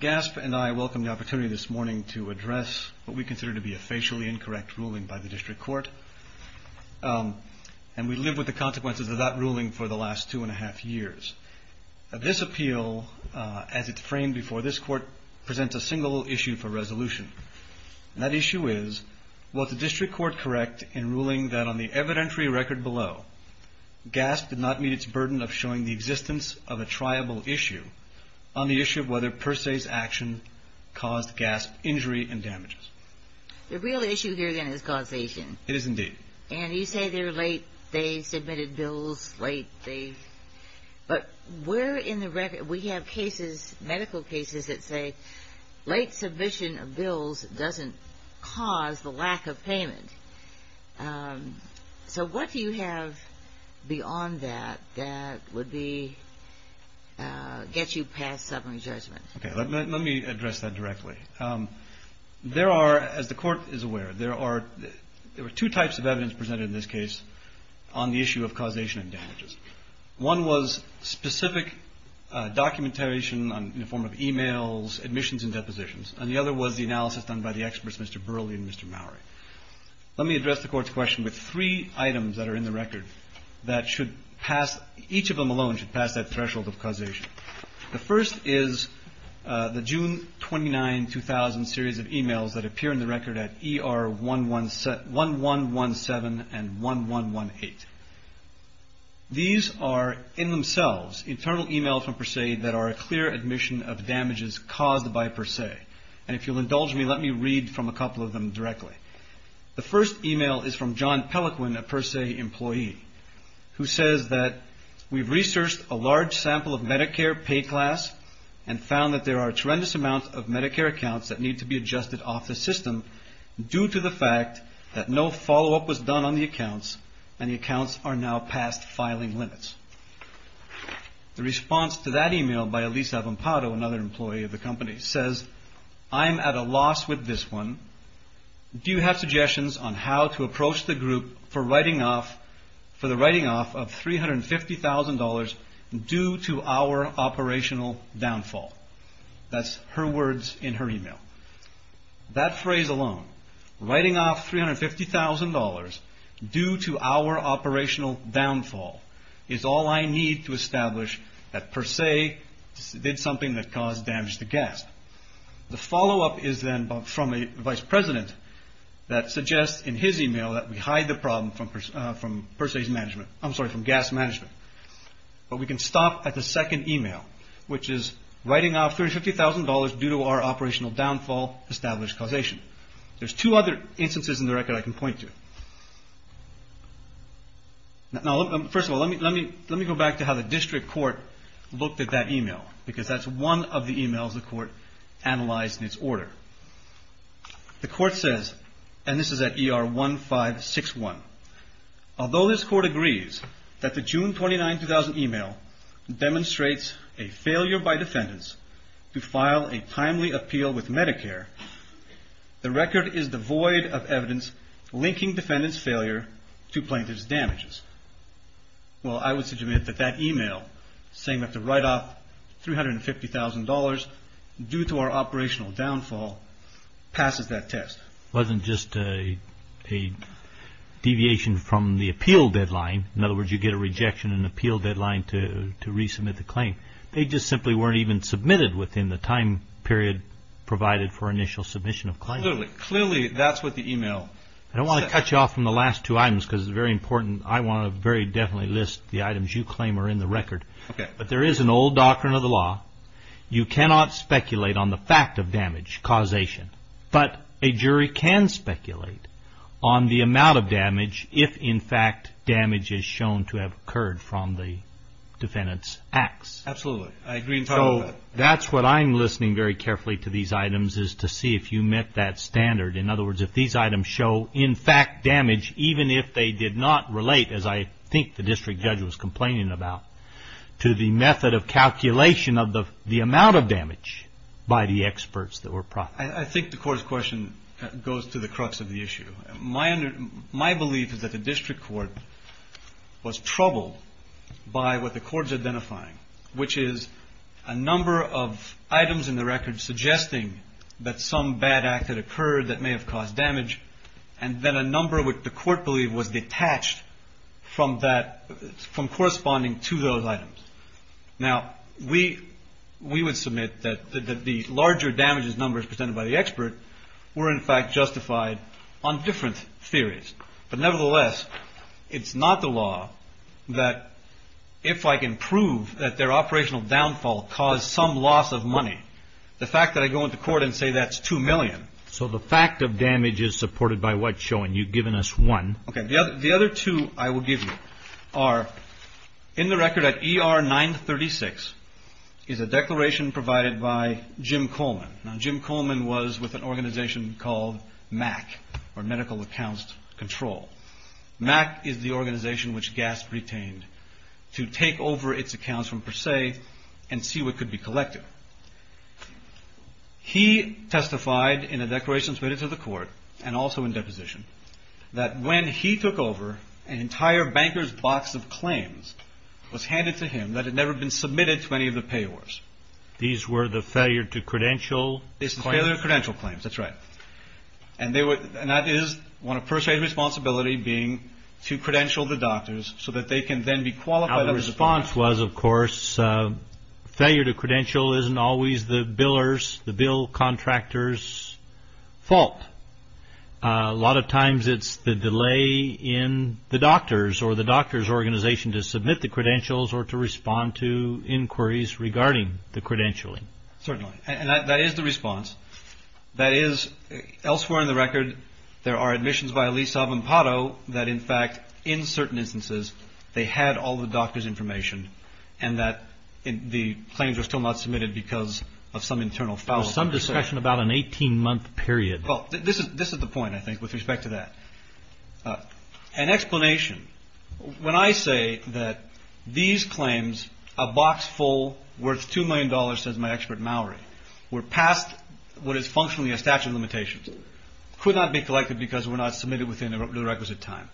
GASP and I welcome the opportunity this morning to address what we consider to be a facially incorrect ruling by the District Court, and we live with the consequences of that ruling for the last two and a half years. This appeal, as it's framed before this Court, presents a single issue for resolution. And that issue is, was the District Court correct in ruling that on the evidentiary record below, GASP did not meet its burden of showing the existence of a triable issue on the issue of whether Per-Se's action caused GASP injury and damages? The real issue here, then, is causation. It is indeed. And you say they're late. They submitted bills late. But we're in the record. We have cases, medical cases, that say late submission of bills doesn't cause the lack of payment. So what do you have beyond that that would get you past sovereign judgment? Okay. Let me address that directly. There are, as the Court is aware, there are two types of evidence presented in this case on the issue of causation and damages. One was specific documentation in the form of e-mails, admissions, and depositions. And the other was the analysis done by the experts, Mr. Burley and Mr. Mowery. Let me address the Court's question with three items that are in the record that should pass, each of them alone should pass that threshold of causation. The first is the June 29, 2000 series of e-mails that appear in the record at ER 1117 and 1118. These are, in themselves, internal e-mails from Per-Se that are a clear admission of damages caused by Per-Se. And if you'll indulge me, let me read from a couple of them directly. The first e-mail is from John Pelequin, a Per-Se employee, who says that we've researched a large sample of Medicare pay class and found that there are a tremendous amount of Medicare accounts that need to be adjusted off the system due to the fact that no follow-up was done on the accounts and the accounts are now past filing limits. The response to that e-mail by Elisa Vampato, another employee of the company, says, I'm at a loss with this one. Do you have suggestions on how to approach the group for the writing off of $350,000 due to our operational downfall? That's her words in her e-mail. That phrase alone, writing off $350,000 due to our operational downfall, is all I need to establish that Per-Se did something that caused damage to gas. The follow-up is then from a vice president that suggests in his e-mail that we hide the problem from Per-Se's management. I'm sorry, from gas management. But we can stop at the second e-mail, which is writing off $350,000 due to our operational downfall established causation. There's two other instances in the record I can point to. First of all, let me go back to how the district court looked at that e-mail, because that's one of the e-mails the court analyzed in its order. The court says, and this is at ER 1561, although this court agrees that the June 29, 2000 e-mail demonstrates a failure by defendants to file a timely appeal with Medicare, the record is devoid of evidence linking defendants' failure to plaintiff's damages. Well, I would submit that that e-mail saying that the write off $350,000 due to our operational downfall passes that test. It wasn't just a deviation from the appeal deadline. In other words, you get a rejection in the appeal deadline to resubmit the claim. They just simply weren't even submitted within the time period provided for initial submission of claim. Clearly, that's what the e-mail says. I don't want to cut you off from the last two items because it's very important. I want to very definitely list the items you claim are in the record. But there is an old doctrine of the law. You cannot speculate on the fact of damage causation. But a jury can speculate on the amount of damage if, in fact, damage is shown to have occurred from the defendant's acts. Absolutely. I agree entirely with that. So that's what I'm listening very carefully to these items is to see if you met that standard. In other words, if these items show, in fact, damage, even if they did not relate, as I think the district judge was complaining about, to the method of calculation of the amount of damage by the experts that were profiting. I think the court's question goes to the crux of the issue. My belief is that the district court was troubled by what the court is identifying, which is a number of items in the record suggesting that some bad act had occurred that may have caused damage, and then a number which the court believed was detached from corresponding to those items. Now, we would submit that the larger damages numbers presented by the expert were, in fact, justified on different theories. But nevertheless, it's not the law that if I can prove that their operational downfall caused some loss of money, the fact that I go into court and say that's $2 million. So the fact of damage is supported by what's shown. You've given us one. Okay. The other two I will give you are in the record at ER 936 is a declaration provided by Jim Coleman. Now, Jim Coleman was with an organization called MAC, or Medical Accounts Control. MAC is the organization which GASP retained to take over its accounts from Per Se and see what could be collected. He testified in a declaration submitted to the court and also in deposition that when he took over, an entire banker's box of claims was handed to him that had never been submitted to any of the payors. These were the failure to credential claims? These were the failure to credential claims. That's right. And that is one of Per Se's responsibility being to credential the doctors so that they can then be qualified. The response was, of course, failure to credential isn't always the biller's, the bill contractor's fault. A lot of times it's the delay in the doctors or the doctor's organization to submit the credentials or to respond to inquiries regarding the credentialing. Certainly. And that is the response. That is, elsewhere in the record, there are admissions by Lease of Empato that, in fact, in certain instances, they had all the doctors' information and that the claims were still not submitted because of some internal fallacy. There was some discussion about an 18-month period. Well, this is the point, I think, with respect to that. An explanation. When I say that these claims, a box full worth $2 million, says my expert Mallory, were past what is functionally a statute of limitations, could not be collected because were not submitted within the requisite time.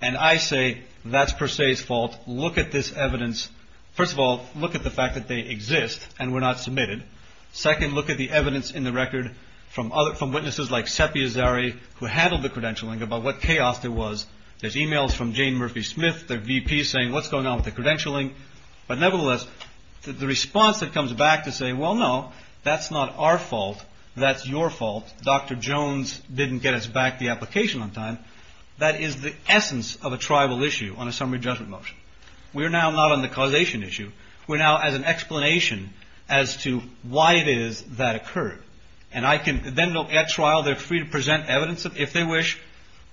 And I say, that's Perseus' fault. Look at this evidence. First of all, look at the fact that they exist and were not submitted. Second, look at the evidence in the record from witnesses like Sepi Azari, who handled the credentialing, about what chaos there was. There's e-mails from Jane Murphy Smith, their VP, saying what's going on with the credentialing. But nevertheless, the response that comes back to say, well, no, that's not our fault. That's your fault. Dr. Jones didn't get us back the application on time. That is the essence of a tribal issue on a summary judgment motion. We are now not on the causation issue. We're now as an explanation as to why it is that occurred. And I can then at trial, they're free to present evidence, if they wish,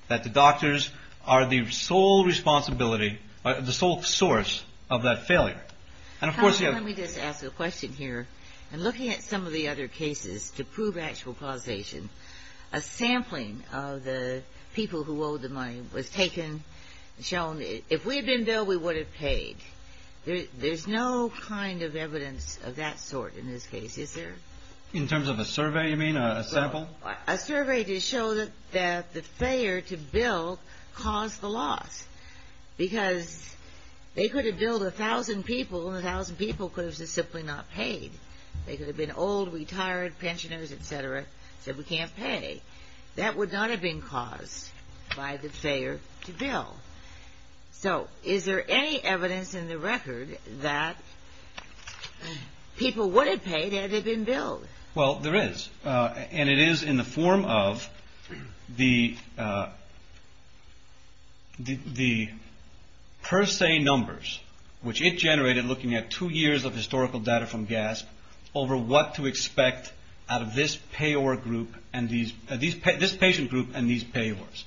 that the doctors are the sole responsibility, the sole source of that failure. And, of course, you have to ask a question here. And looking at some of the other cases to prove actual causation, a sampling of the people who owed the money was taken and shown. If we had been billed, we would have paid. There's no kind of evidence of that sort in this case. Is there? In terms of a survey, you mean, a sample? A survey to show that the failure to bill caused the loss. Because they could have billed 1,000 people, and 1,000 people could have just simply not paid. They could have been old, retired, pensioners, et cetera, said we can't pay. That would not have been caused by the failure to bill. So is there any evidence in the record that people would have paid had they been billed? Well, there is. And it is in the form of the per se numbers, which it generated looking at two years of historical data from GASP, over what to expect out of this patient group and these payors.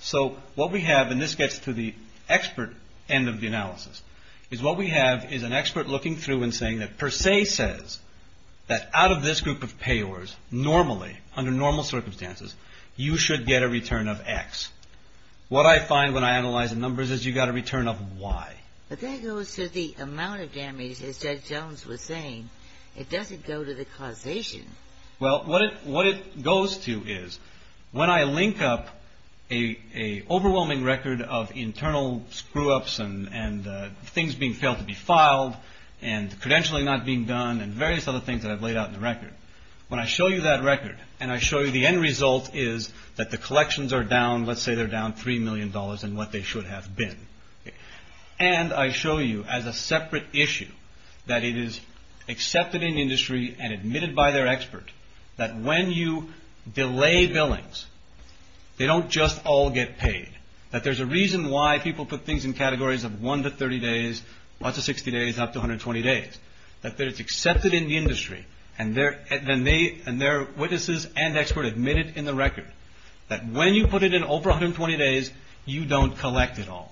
So what we have, and this gets to the expert end of the analysis, is what we have is an expert looking through and saying that per se says that out of this group of payors, normally, under normal circumstances, you should get a return of X. What I find when I analyze the numbers is you got a return of Y. But that goes to the amount of damage, as Judge Jones was saying. It doesn't go to the causation. Well, what it goes to is when I link up an overwhelming record of internal screw-ups and things being failed to be filed and credentialing not being done and various other things that I've laid out in the record, when I show you that record and I show you the end result is that the collections are down, let's say they're down $3 million in what they should have been. And I show you as a separate issue that it is accepted in industry and admitted by their expert that when you delay billings, they don't just all get paid, that there's a reason why people put things in categories of 1 to 30 days, 1 to 60 days, up to 120 days, that it's accepted in the industry and their witnesses and expert admit it in the record that when you put it in over 120 days, you don't collect it all.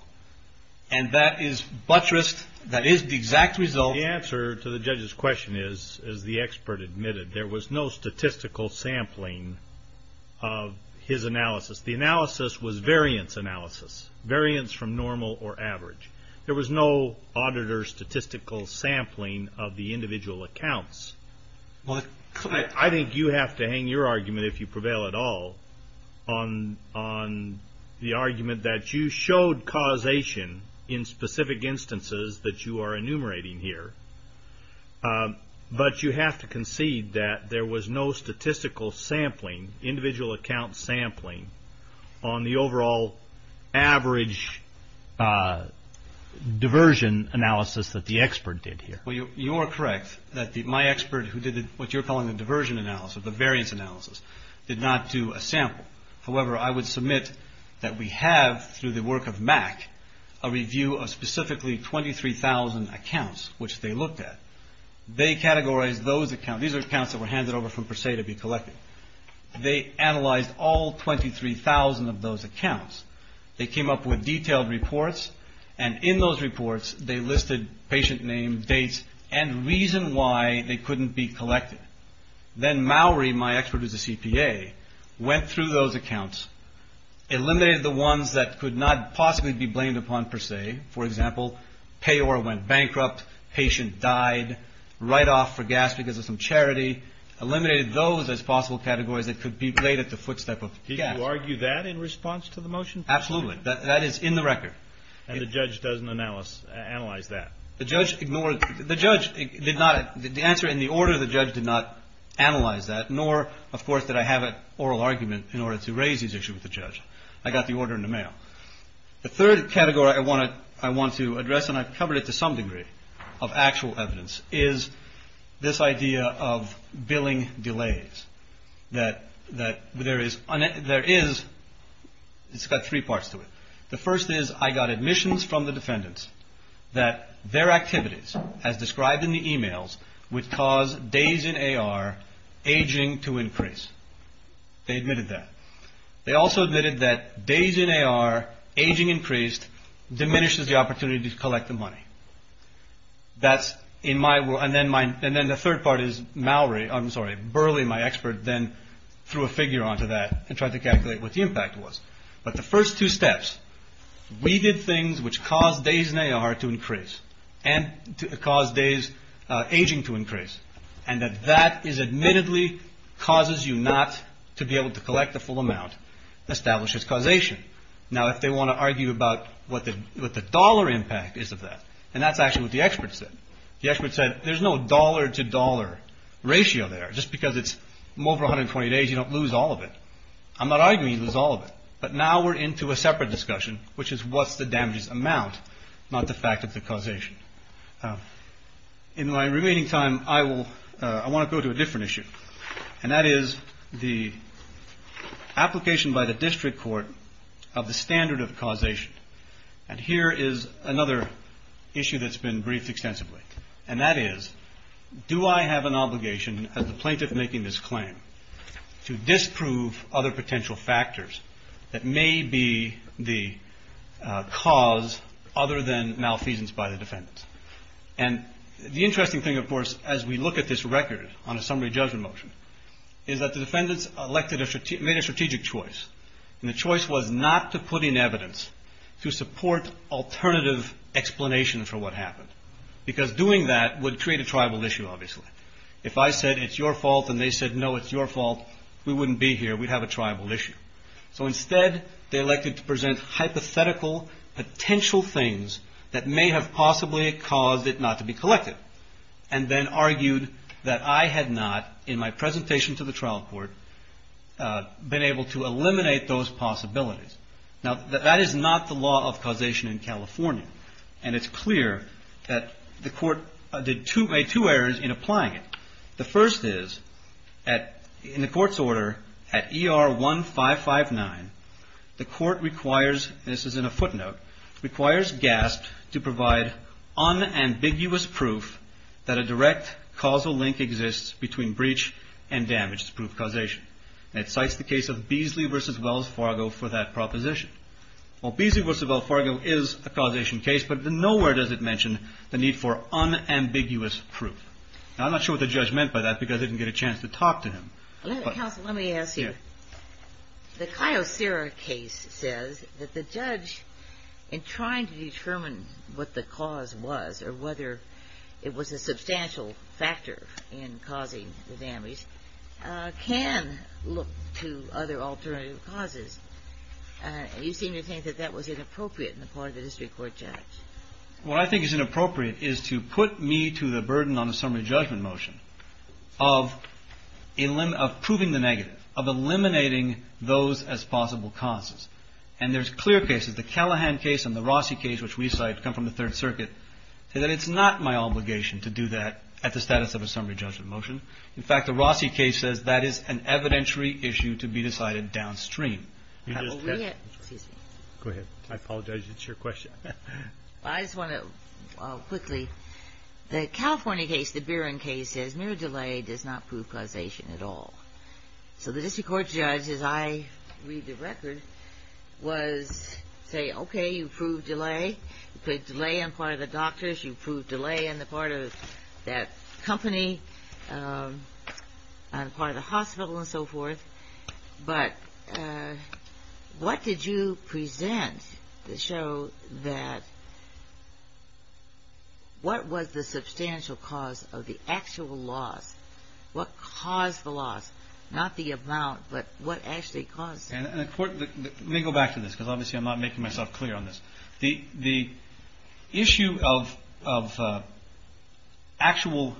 And that is buttressed, that is the exact result. The answer to the judge's question is, as the expert admitted, there was no statistical sampling of his analysis. The analysis was variance analysis, variance from normal or average. There was no auditor statistical sampling of the individual accounts. I think you have to hang your argument, if you prevail at all, on the argument that you showed causation in specific instances that you are enumerating here. But you have to concede that there was no statistical sampling, individual account sampling on the overall average diversion analysis that the expert did here. Well, you are correct that my expert who did what you're calling a diversion analysis, a variance analysis, did not do a sample. However, I would submit that we have, through the work of MAC, a review of specifically 23,000 accounts which they looked at. They categorized those accounts. These are accounts that were handed over from Per Se to be collected. They analyzed all 23,000 of those accounts. They came up with detailed reports, and in those reports, they listed patient name, dates, and reason why they couldn't be collected. Then Maury, my expert who's a CPA, went through those accounts, eliminated the ones that could not possibly be blamed upon Per Se. For example, payor went bankrupt, patient died, write-off for gas because of some charity, eliminated those as possible categories that could be played at the footstep of gas. Did you argue that in response to the motion? Absolutely. That is in the record. And the judge doesn't analyze that? The judge ignored it. The judge did not. The answer in the order, the judge did not analyze that, nor, of course, did I have an oral argument in order to raise these issues with the judge. I got the order in the mail. The third category I want to address, and I've covered it to some degree of actual evidence, is this idea of billing delays, that there is. There is. It's got three parts to it. The first is I got admissions from the defendants that their activities, as described in the emails, would cause days in AR aging to increase. They admitted that. They also admitted that days in AR, aging increased, diminishes the opportunity to collect the money. And then the third part is Maury, I'm sorry, Burley, my expert, then threw a figure onto that and tried to calculate what the impact was. But the first two steps, we did things which caused days in AR to increase and caused days aging to increase, and that that is admittedly causes you not to be able to collect the full amount establishes causation. Now, if they want to argue about what the dollar impact is of that, and that's actually what the expert said. The expert said there's no dollar to dollar ratio there. Just because it's over 120 days, you don't lose all of it. I'm not arguing you lose all of it, but now we're into a separate discussion, which is what's the damages amount, not the fact of the causation. In my remaining time, I want to go to a different issue, and that is the application by the district court of the standard of causation. And here is another issue that's been briefed extensively, and that is do I have an obligation as the plaintiff making this claim to disprove other potential factors that may be the cause other than malfeasance by the defendants. And the interesting thing, of course, as we look at this record on a summary judgment motion, is that the defendants made a strategic choice, and the choice was not to put in evidence to support alternative explanation for what happened, because doing that would create a tribal issue, obviously. If I said, it's your fault, and they said, no, it's your fault, we wouldn't be here. We'd have a tribal issue. So instead, they elected to present hypothetical potential things that may have possibly caused it not to be collected, and then argued that I had not, in my presentation to the trial court, been able to eliminate those possibilities. Now, that is not the law of causation in California, and it's clear that the court made two errors in applying it. The first is, in the court's order, at ER 1559, the court requires, this is in a footnote, requires GASP to provide unambiguous proof that a direct causal link exists between breach and damage to prove causation. And it cites the case of Beasley v. Wells Fargo for that proposition. Well, Beasley v. Wells Fargo is a causation case, but nowhere does it mention the need for unambiguous proof. Now, I'm not sure what the judge meant by that, because I didn't get a chance to talk to him. Counsel, let me ask you. The Kyocera case says that the judge, in trying to determine what the cause was, or whether it was a substantial factor in causing the damage, can look to other alternative causes. You seem to think that that was inappropriate on the part of the district court judge. What I think is inappropriate is to put me to the burden on a summary judgment motion of proving the negative, of eliminating those as possible causes. And there's clear cases. The Callahan case and the Rossi case, which we cite, come from the Third Circuit, say that it's not my obligation to do that at the status of a summary judgment motion. In fact, the Rossi case says that is an evidentiary issue to be decided downstream. Excuse me. Go ahead. I apologize. It's your question. I just want to, quickly. The California case, the Bieran case, says mere delay does not prove causation at all. So the district court judge, as I read the record, was saying, okay, you proved delay. You proved delay on the part of the doctors. You proved delay on the part of that company, on the part of the hospital, and so forth. But what did you present to show that what was the substantial cause of the actual loss? What caused the loss? Not the amount, but what actually caused it? Let me go back to this, because obviously I'm not making myself clear on this. The issue of actual,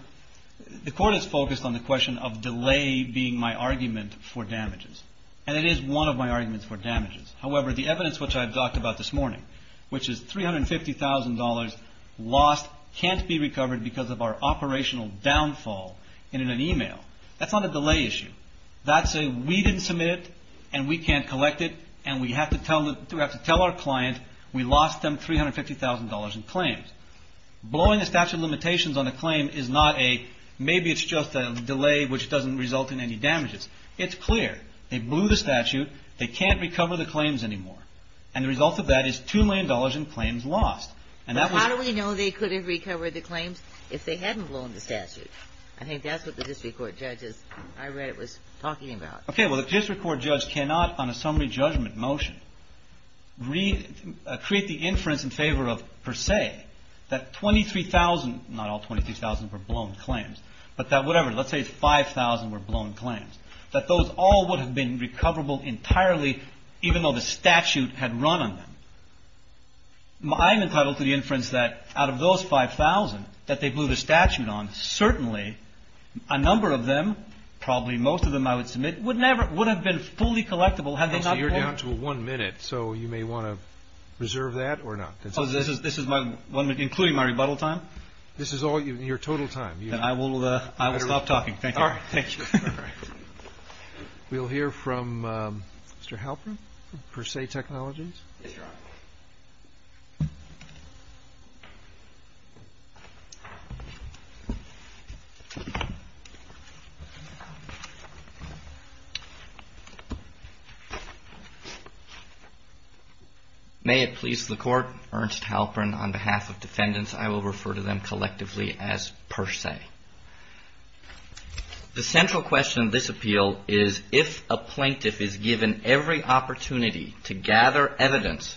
the court is focused on the question of delay being my argument for damages. And it is one of my arguments for damages. However, the evidence which I've talked about this morning, which is $350,000 lost, can't be recovered because of our operational downfall in an e-mail, that's not a delay issue. That's a we didn't submit it, and we can't collect it, and we have to tell our client we lost them $350,000 in claims. Blowing the statute of limitations on a claim is not a maybe it's just a delay which doesn't result in any damages. It's clear. They blew the statute. They can't recover the claims anymore. And the result of that is $2 million in claims lost. But how do we know they couldn't recover the claims if they hadn't blown the statute? I think that's what the district court judge is. I read it was talking about. Okay. Well, the district court judge cannot on a summary judgment motion create the inference in favor of per se that 23,000, not all 23,000 were blown claims, but that whatever, let's say 5,000 were blown claims, that those all would have been recoverable entirely even though the statute had run on them. I'm entitled to the inference that out of those 5,000 that they blew the statute on, certainly a number of them, probably most of them I would submit, would have been fully collectible. So you're down to one minute. So you may want to reserve that or not. This is my one minute, including my rebuttal time. This is all your total time. Then I will stop talking. Thank you. All right. Thank you. We'll hear from Mr. Halperin, per se technologies. May it please the court. Ernst Halperin on behalf of defendants. I will refer to them collectively as per se. The central question. This appeal is if a plaintiff is given every opportunity to gather evidence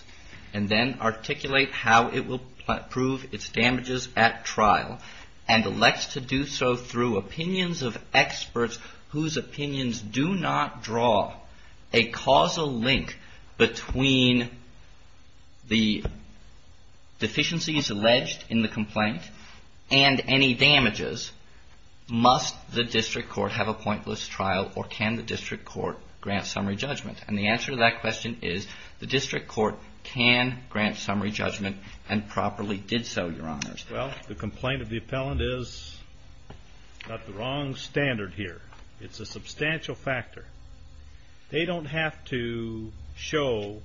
and then articulate how it will prove its damages at trial and elects to do so through opinions of experts whose opinions do not draw a causal link between the deficiencies alleged in the complaint and any damages, must the district court have a pointless trial or can the district court grant summary judgment? And the answer to that question is the district court can grant summary judgment and properly did so, Your Honors. Well, the complaint of the appellant is not the wrong standard here. It's a substantial factor. They don't have to show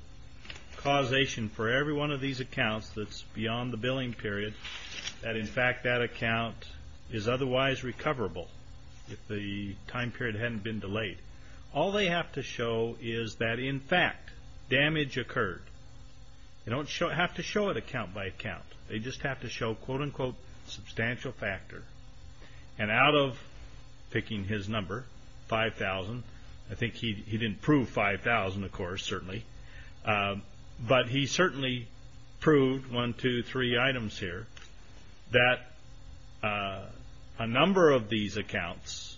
causation for every one of these accounts that's beyond the billing period, that in fact that account is otherwise recoverable if the time period hadn't been delayed. All they have to show is that, in fact, damage occurred. They don't have to show it account by account. They just have to show, quote, unquote, substantial factor. And out of picking his number, 5,000, I think he didn't prove 5,000, of course, certainly, but he certainly proved one, two, three items here that a number of these accounts,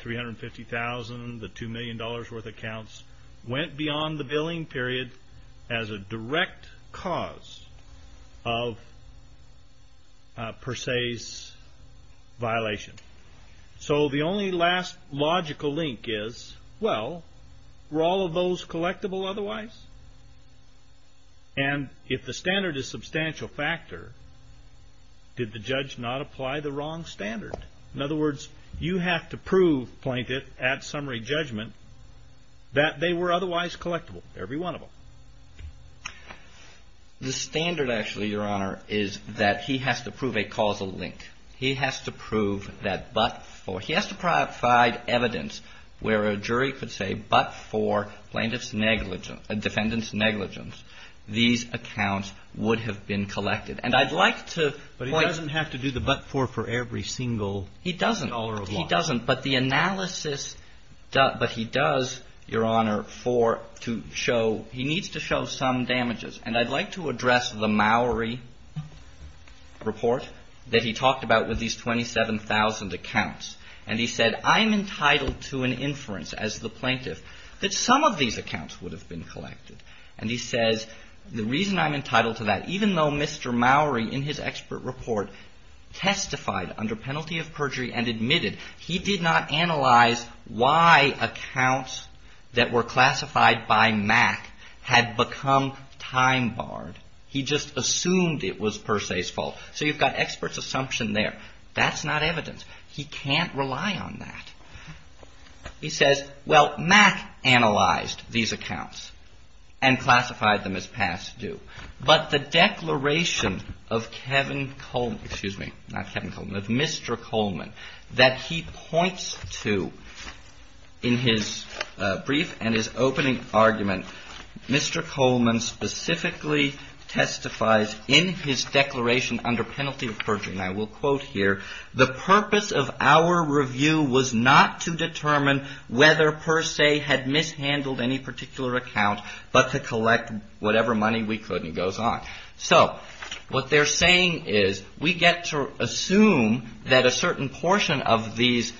350,000, the $2 million worth of accounts, went beyond the billing period as a direct cause of per se's violation. So the only last logical link is, well, were all of those collectible otherwise? And if the standard is substantial factor, did the judge not apply the wrong standard? In other words, you have to prove, Plaintiff, at summary judgment, that they were otherwise collectible, every one of them. The standard, actually, Your Honor, is that he has to prove a causal link. He has to prove that but for he has to provide evidence where a jury could say but for Plaintiff's negligence, defendant's negligence, these accounts would have been collected. And I'd like to point to the fact that he doesn't have to do the but for for every single dollar of loss. He doesn't. He doesn't. But the analysis, but he does, Your Honor, for to show, he needs to show some damages. And I'd like to address the Mowry report that he talked about with these 27,000 accounts. And he said, I'm entitled to an inference as the Plaintiff that some of these accounts would have been collected. And he says, the reason I'm entitled to that, even though Mr. Mowry in his expert report testified under penalty of perjury and admitted he did not analyze why accounts that were classified by Mac had become time barred. He just assumed it was per se's fault. So you've got expert's assumption there. That's not evidence. He can't rely on that. He says, well, Mac analyzed these accounts and classified them as past due. But the declaration of Kevin Coleman, excuse me, not Kevin Coleman, of Mr. Coleman that he points to in his brief and his opening argument, Mr. Coleman specifically testifies in his declaration under penalty of perjury. And I will quote here, the purpose of our review was not to determine whether per se had mishandled any particular account, but to collect whatever money we could and goes on. So what they're saying is we get to assume that a certain portion of these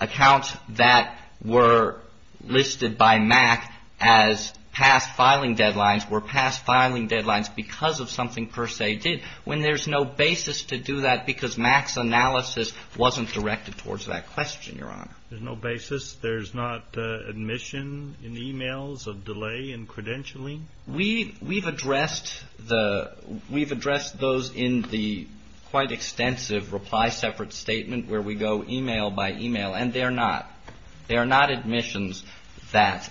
accounts that were listed by Mac as past filing deadlines were past filing deadlines because of something per se did, when there's no basis to do that because Mac's analysis wasn't directed towards that question, Your Honor. There's no basis? There's not admission in the e-mails of delay in credentialing? We've addressed those in the quite extensive reply separate statement where we go e-mail by e-mail, and they're not. They're not admissions that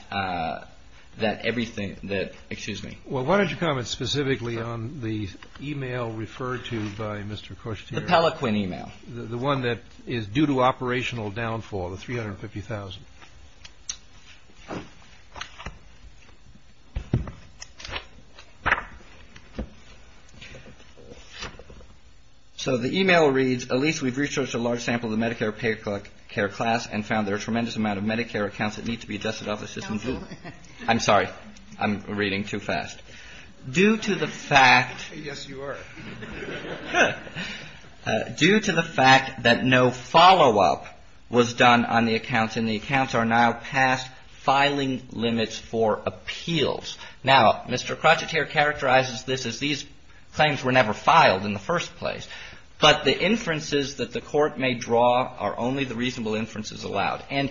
everything that, excuse me. Well, why don't you comment specifically on the e-mail referred to by Mr. Kushner? The Pellaquin e-mail. The one that is due to operational downfall, the 350,000. So the e-mail reads, Elise, we've researched a large sample of the Medicare pay care class and found there are tremendous amount of Medicare accounts that need to be adjusted off assistance. I'm sorry. I'm reading too fast. Due to the fact. Yes, you are. Due to the fact that no follow-up was done on the accounts, and the accounts are now past filing limits for appeals. Now, Mr. Krocheter characterizes this as these claims were never filed in the first place. But the inferences that the Court may draw are only the reasonable inferences allowed. And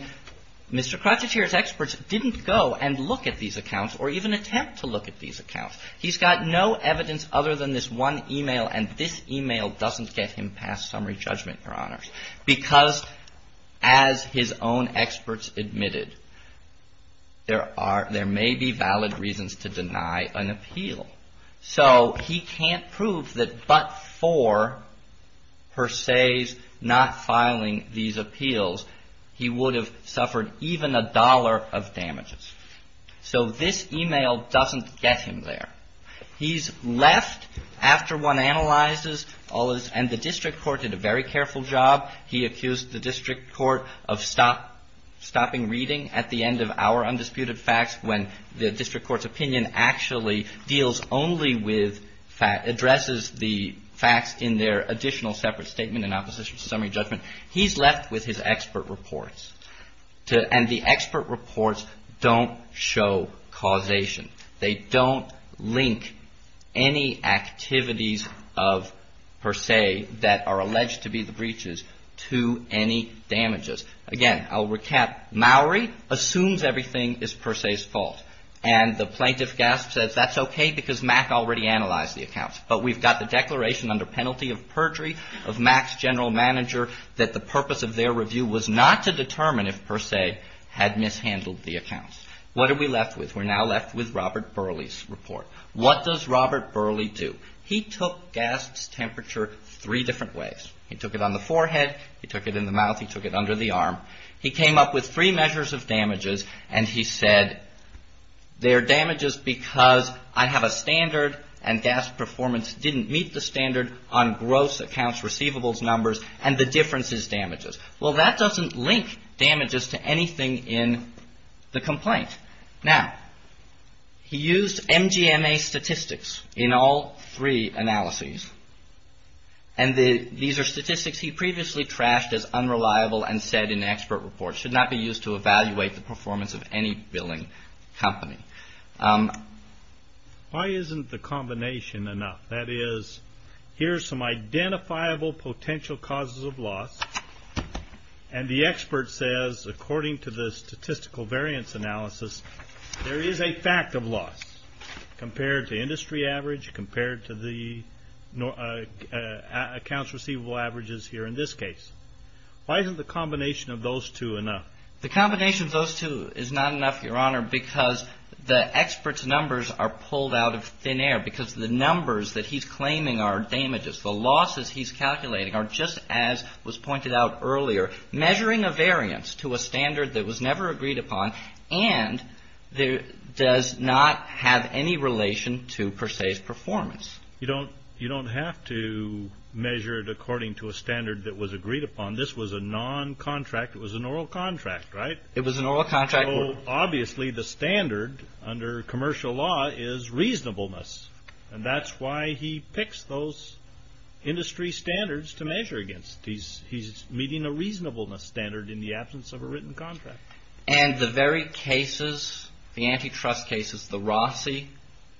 Mr. Krocheter's experts didn't go and look at these accounts or even attempt to look at these accounts. He's got no evidence other than this one e-mail, and this e-mail doesn't get him past summary judgment, Your Honors. Because as his own experts admitted, there may be valid reasons to deny an appeal. So he can't prove that but for her says not filing these appeals, he would have suffered even a dollar of damages. So this e-mail doesn't get him there. He's left after one analyzes all this, and the district court did a very careful job. He accused the district court of stopping reading at the end of our undisputed facts when the district court's opinion actually deals only with, addresses the facts in their additional separate statement in opposition to summary judgment. He's left with his expert reports. And the expert reports don't show causation. They don't link any activities of Per Se that are alleged to be the breaches to any damages. Again, I'll recap. Maury assumes everything is Per Se's fault. And the plaintiff, Gast, says that's okay because Mack already analyzed the accounts. But we've got the declaration under penalty of perjury of Mack's general manager that the purpose of their review was not to determine if Per Se had mishandled the accounts. What are we left with? We're now left with Robert Burley's report. What does Robert Burley do? He took Gast's temperature three different ways. He took it on the forehead, he took it in the mouth, he took it under the arm. He came up with three measures of damages, and he said they're damages because I have a standard and Gast's performance didn't meet the standard on gross accounts receivables numbers, and the difference is damages. Well, that doesn't link damages to anything in the complaint. Now, he used MGMA statistics in all three analyses. And these are statistics he previously trashed as unreliable and said in expert reports, should not be used to evaluate the performance of any billing company. Why isn't the combination enough? That is, here's some identifiable potential causes of loss, and the expert says, according to the statistical variance analysis, there is a fact of loss compared to industry average, compared to the accounts receivable averages here in this case. Why isn't the combination of those two enough? The combination of those two is not enough, Your Honor, because the expert's numbers are pulled out of thin air, because the numbers that he's claiming are damages. The losses he's calculating are just as was pointed out earlier, measuring a variance to a standard that was never agreed upon and does not have any relation to per se's performance. You don't have to measure it according to a standard that was agreed upon. This was a non-contract. It was an oral contract, right? It was an oral contract. Obviously, the standard under commercial law is reasonableness, and that's why he picks those industry standards to measure against. He's meeting a reasonableness standard in the absence of a written contract. And the very cases, the antitrust cases, the Rossi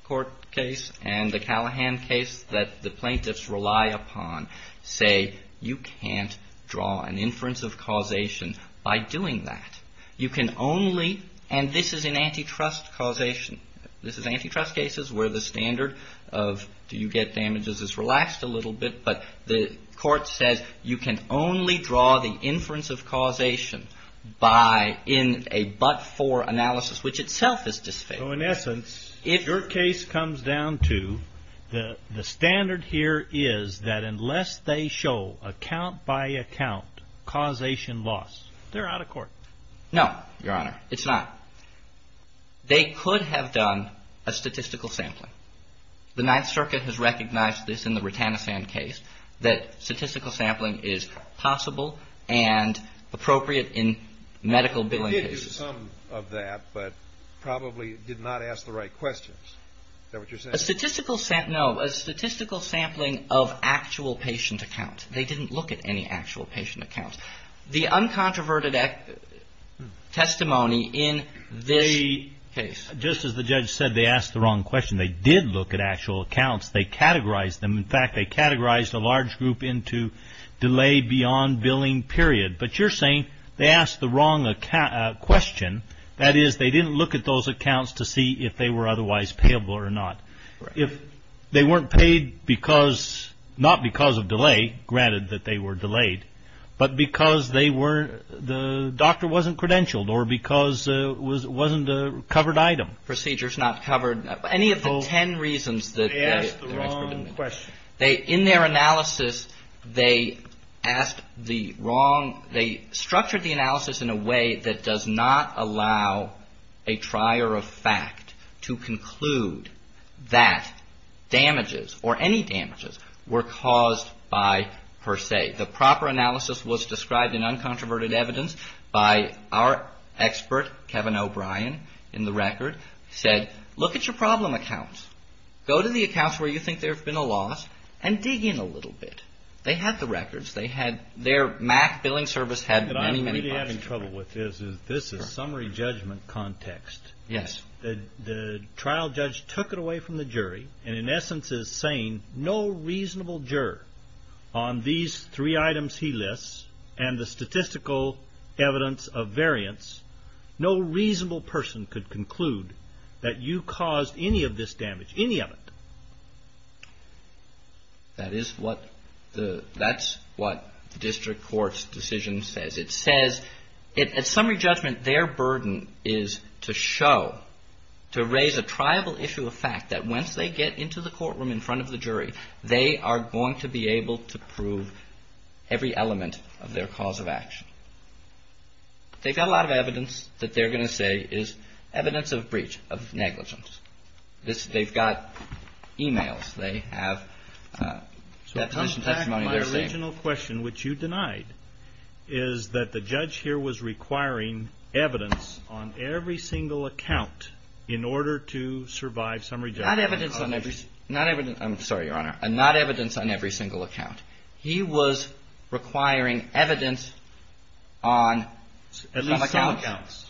court case and the Callahan case that the plaintiffs rely upon say, you can't draw an inference of causation by doing that. You can only, and this is an antitrust causation. This is antitrust cases where the standard of do you get damages is relaxed a little bit, but the court says you can only draw the inference of causation in a but-for analysis, which itself is disfavorable. So in essence, if your case comes down to the standard here is that unless they show account by account causation loss, they're out of court. No, Your Honor, it's not. They could have done a statistical sampling. The Ninth Circuit has recognized this in the Rutanasan case, that statistical sampling is possible and appropriate in medical billing cases. They did do some of that, but probably did not ask the right questions. Is that what you're saying? No. A statistical sampling of actual patient accounts. They didn't look at any actual patient accounts. The uncontroverted testimony in this case. Just as the judge said, they asked the wrong question. They did look at actual accounts. They categorized them. If they weren't paid because not because of delay, granted that they were delayed, but because they were the doctor wasn't credentialed or because it wasn't a covered item. Procedures not covered. Any of the 10 reasons that they asked the wrong question. They in their analysis they asked the wrong. They structured the analysis in a way that does not allow a trier of fact to conclude that the patient is not a covered item. That damages or any damages were caused by per se. The proper analysis was described in uncontroverted evidence by our expert, Kevin O'Brien, in the record. He said, look at your problem accounts. Go to the accounts where you think there have been a loss and dig in a little bit. They had the records. Their MAC billing service had many, many. What I'm having trouble with this is this is summary judgment context. The trial judge took it away from the jury. And in essence is saying no reasonable juror on these three items. He lists and the statistical evidence of variance. No reasonable person could conclude that you caused any of this damage. Any of it. That's what the district court's decision says. It says at summary judgment their burden is to show, to raise a triable issue of fact that once they get into the courtroom in front of the jury, they are going to be able to prove every element of their cause of action. They've got a lot of evidence that they're going to say is evidence of breach of negligence. They've got e-mails. They have testimonies. My original question, which you denied, is that the judge here was requiring evidence on every single account in order to survive summary judgment. Not evidence on every, not evidence. I'm sorry, Your Honor. Not evidence on every single account. He was requiring evidence on some accounts.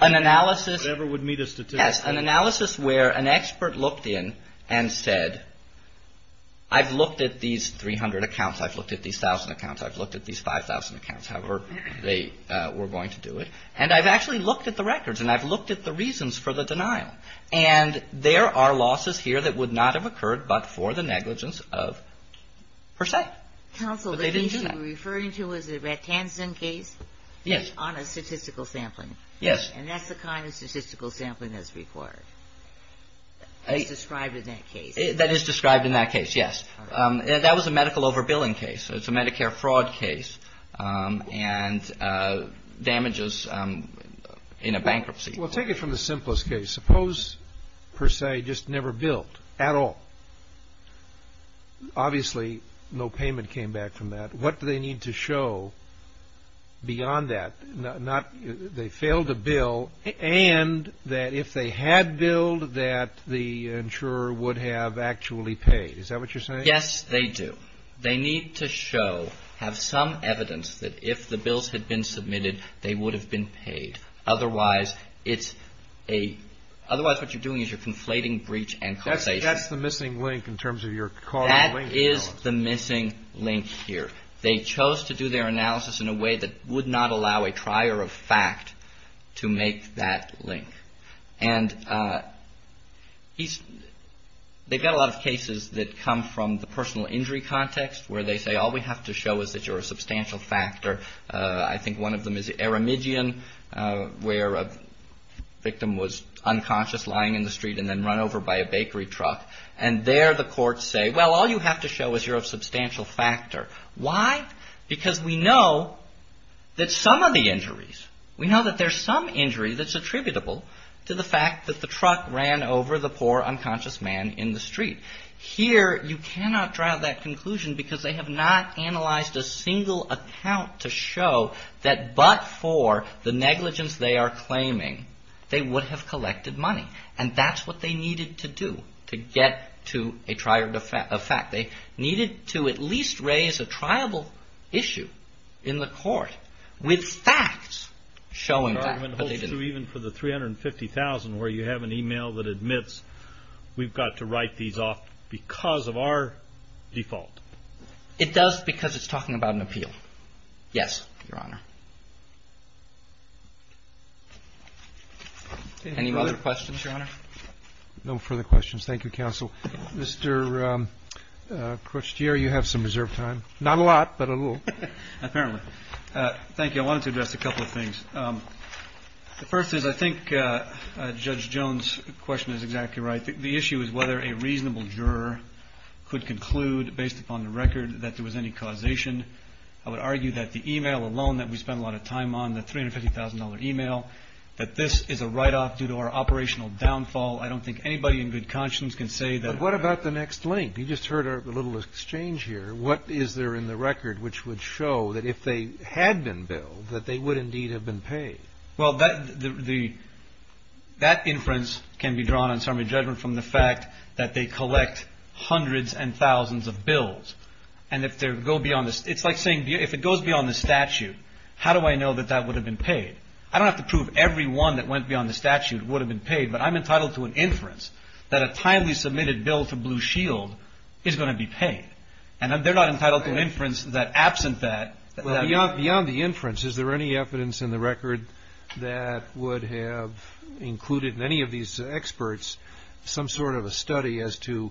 An analysis. An analysis where an expert looked in and said I've looked at these 300 accounts. I've looked at these thousand accounts. I've looked at these 5,000 accounts, however they were going to do it. And I've actually looked at the records and I've looked at the reasons for the denial. And there are losses here that would not have occurred but for the negligence of per se. But they didn't do that. Counsel, are you referring to the Ratanson case? Yes. And that's the kind of statistical sampling that's required. It's described in that case. That is described in that case, yes. That was a medical over billing case. It's a Medicare fraud case and damages in a bankruptcy. Well, take it from the simplest case. Suppose per se just never billed at all. Obviously no payment came back from that. What do they need to show beyond that? They failed to bill and that if they had billed that the insurer would have actually paid. Is that what you're saying? Yes, they do. They need to show, have some evidence that if the bills had been submitted, they would have been paid. Otherwise it's a otherwise what you're doing is you're conflating breach and causation. That's the missing link in terms of your causal link. That is the missing link here. They chose to do their analysis in a way that would not allow a trier of fact to make that link. And they've got a lot of cases that come from the personal injury context where they say all we have to show is that you're a substantial factor. I think one of them is Aramidian where a victim was unconscious lying in the street and then run over by a bakery truck. And there the courts say, well, all you have to show is you're a substantial factor. Why? Because we know that some of the injuries, we know that there's some injury that's attributable to the fact that the truck ran over the poor unconscious man in the street. Here you cannot drive that conclusion because they have not analyzed a single account to show that but for the negligence they are claiming, they would have collected money. And that's what they needed to do to get to a trier of fact. They needed to at least raise a triable issue in the court with facts showing that. I mean, even for the $350,000 where you have an email that admits we've got to write these off because of our default. It does because it's talking about an appeal. Yes, Your Honor. Any other questions, Your Honor? No further questions. Thank you, Counsel. Mr. Crutier, you have some reserved time. Not a lot, but a little. Thank you. I wanted to address a couple of things. The first is I think Judge Jones' question is exactly right. The issue is whether a reasonable juror could conclude based upon the record that there was any causation. I would argue that the email alone that we spent a lot of time on, the $350,000 email, that this is a write-off due to our operational downfall. I don't think anybody in good conscience can say that. But what about the next link? You just heard our little exchange here. What is there in the record which would show that if they had been billed, that they would indeed have been paid? Well, that inference can be drawn on summary judgment from the fact that they collect hundreds and thousands of bills. And if they go beyond this, it's like saying if it goes beyond the statute, how do I know that that would have been paid? I don't have to prove every one that went beyond the statute would have been paid, but I'm entitled to an inference that a timely submitted bill to Blue Shield is going to be paid. And they're not entitled to an inference that absent that. Beyond the inference, is there any evidence in the record that would have included in any of these experts some sort of a study as to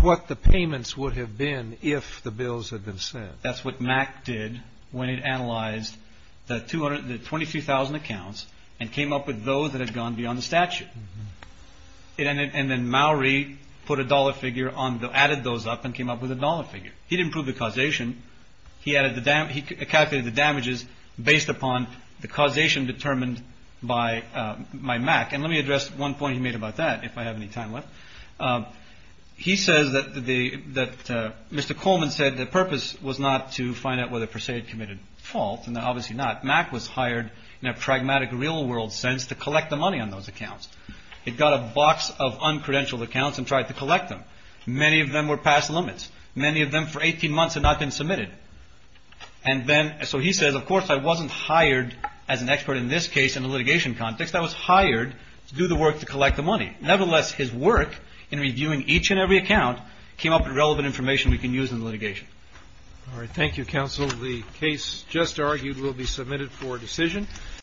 what the payments would have been if the bills had been sent? That's what MAC did when it analyzed the 23,000 accounts and came up with those that had gone beyond the statute. And then Mallory put a dollar figure on the added those up and came up with a dollar figure. He didn't prove the causation. He added the damages. He calculated the damages based upon the causation determined by my MAC. And let me address one point he made about that, if I have any time left. He says that Mr. Coleman said the purpose was not to find out whether Perseid committed fault, and obviously not. MAC was hired in a pragmatic real world sense to collect the money on those accounts. It got a box of uncredentialed accounts and tried to collect them. Many of them were past limits. Many of them for 18 months had not been submitted. And then so he says, of course, I wasn't hired as an expert in this case in the litigation context. I was hired to do the work to collect the money. Nevertheless, his work in reviewing each and every account came up with relevant information we can use in litigation. All right. Thank you, counsel. The case just argued will be submitted for decision.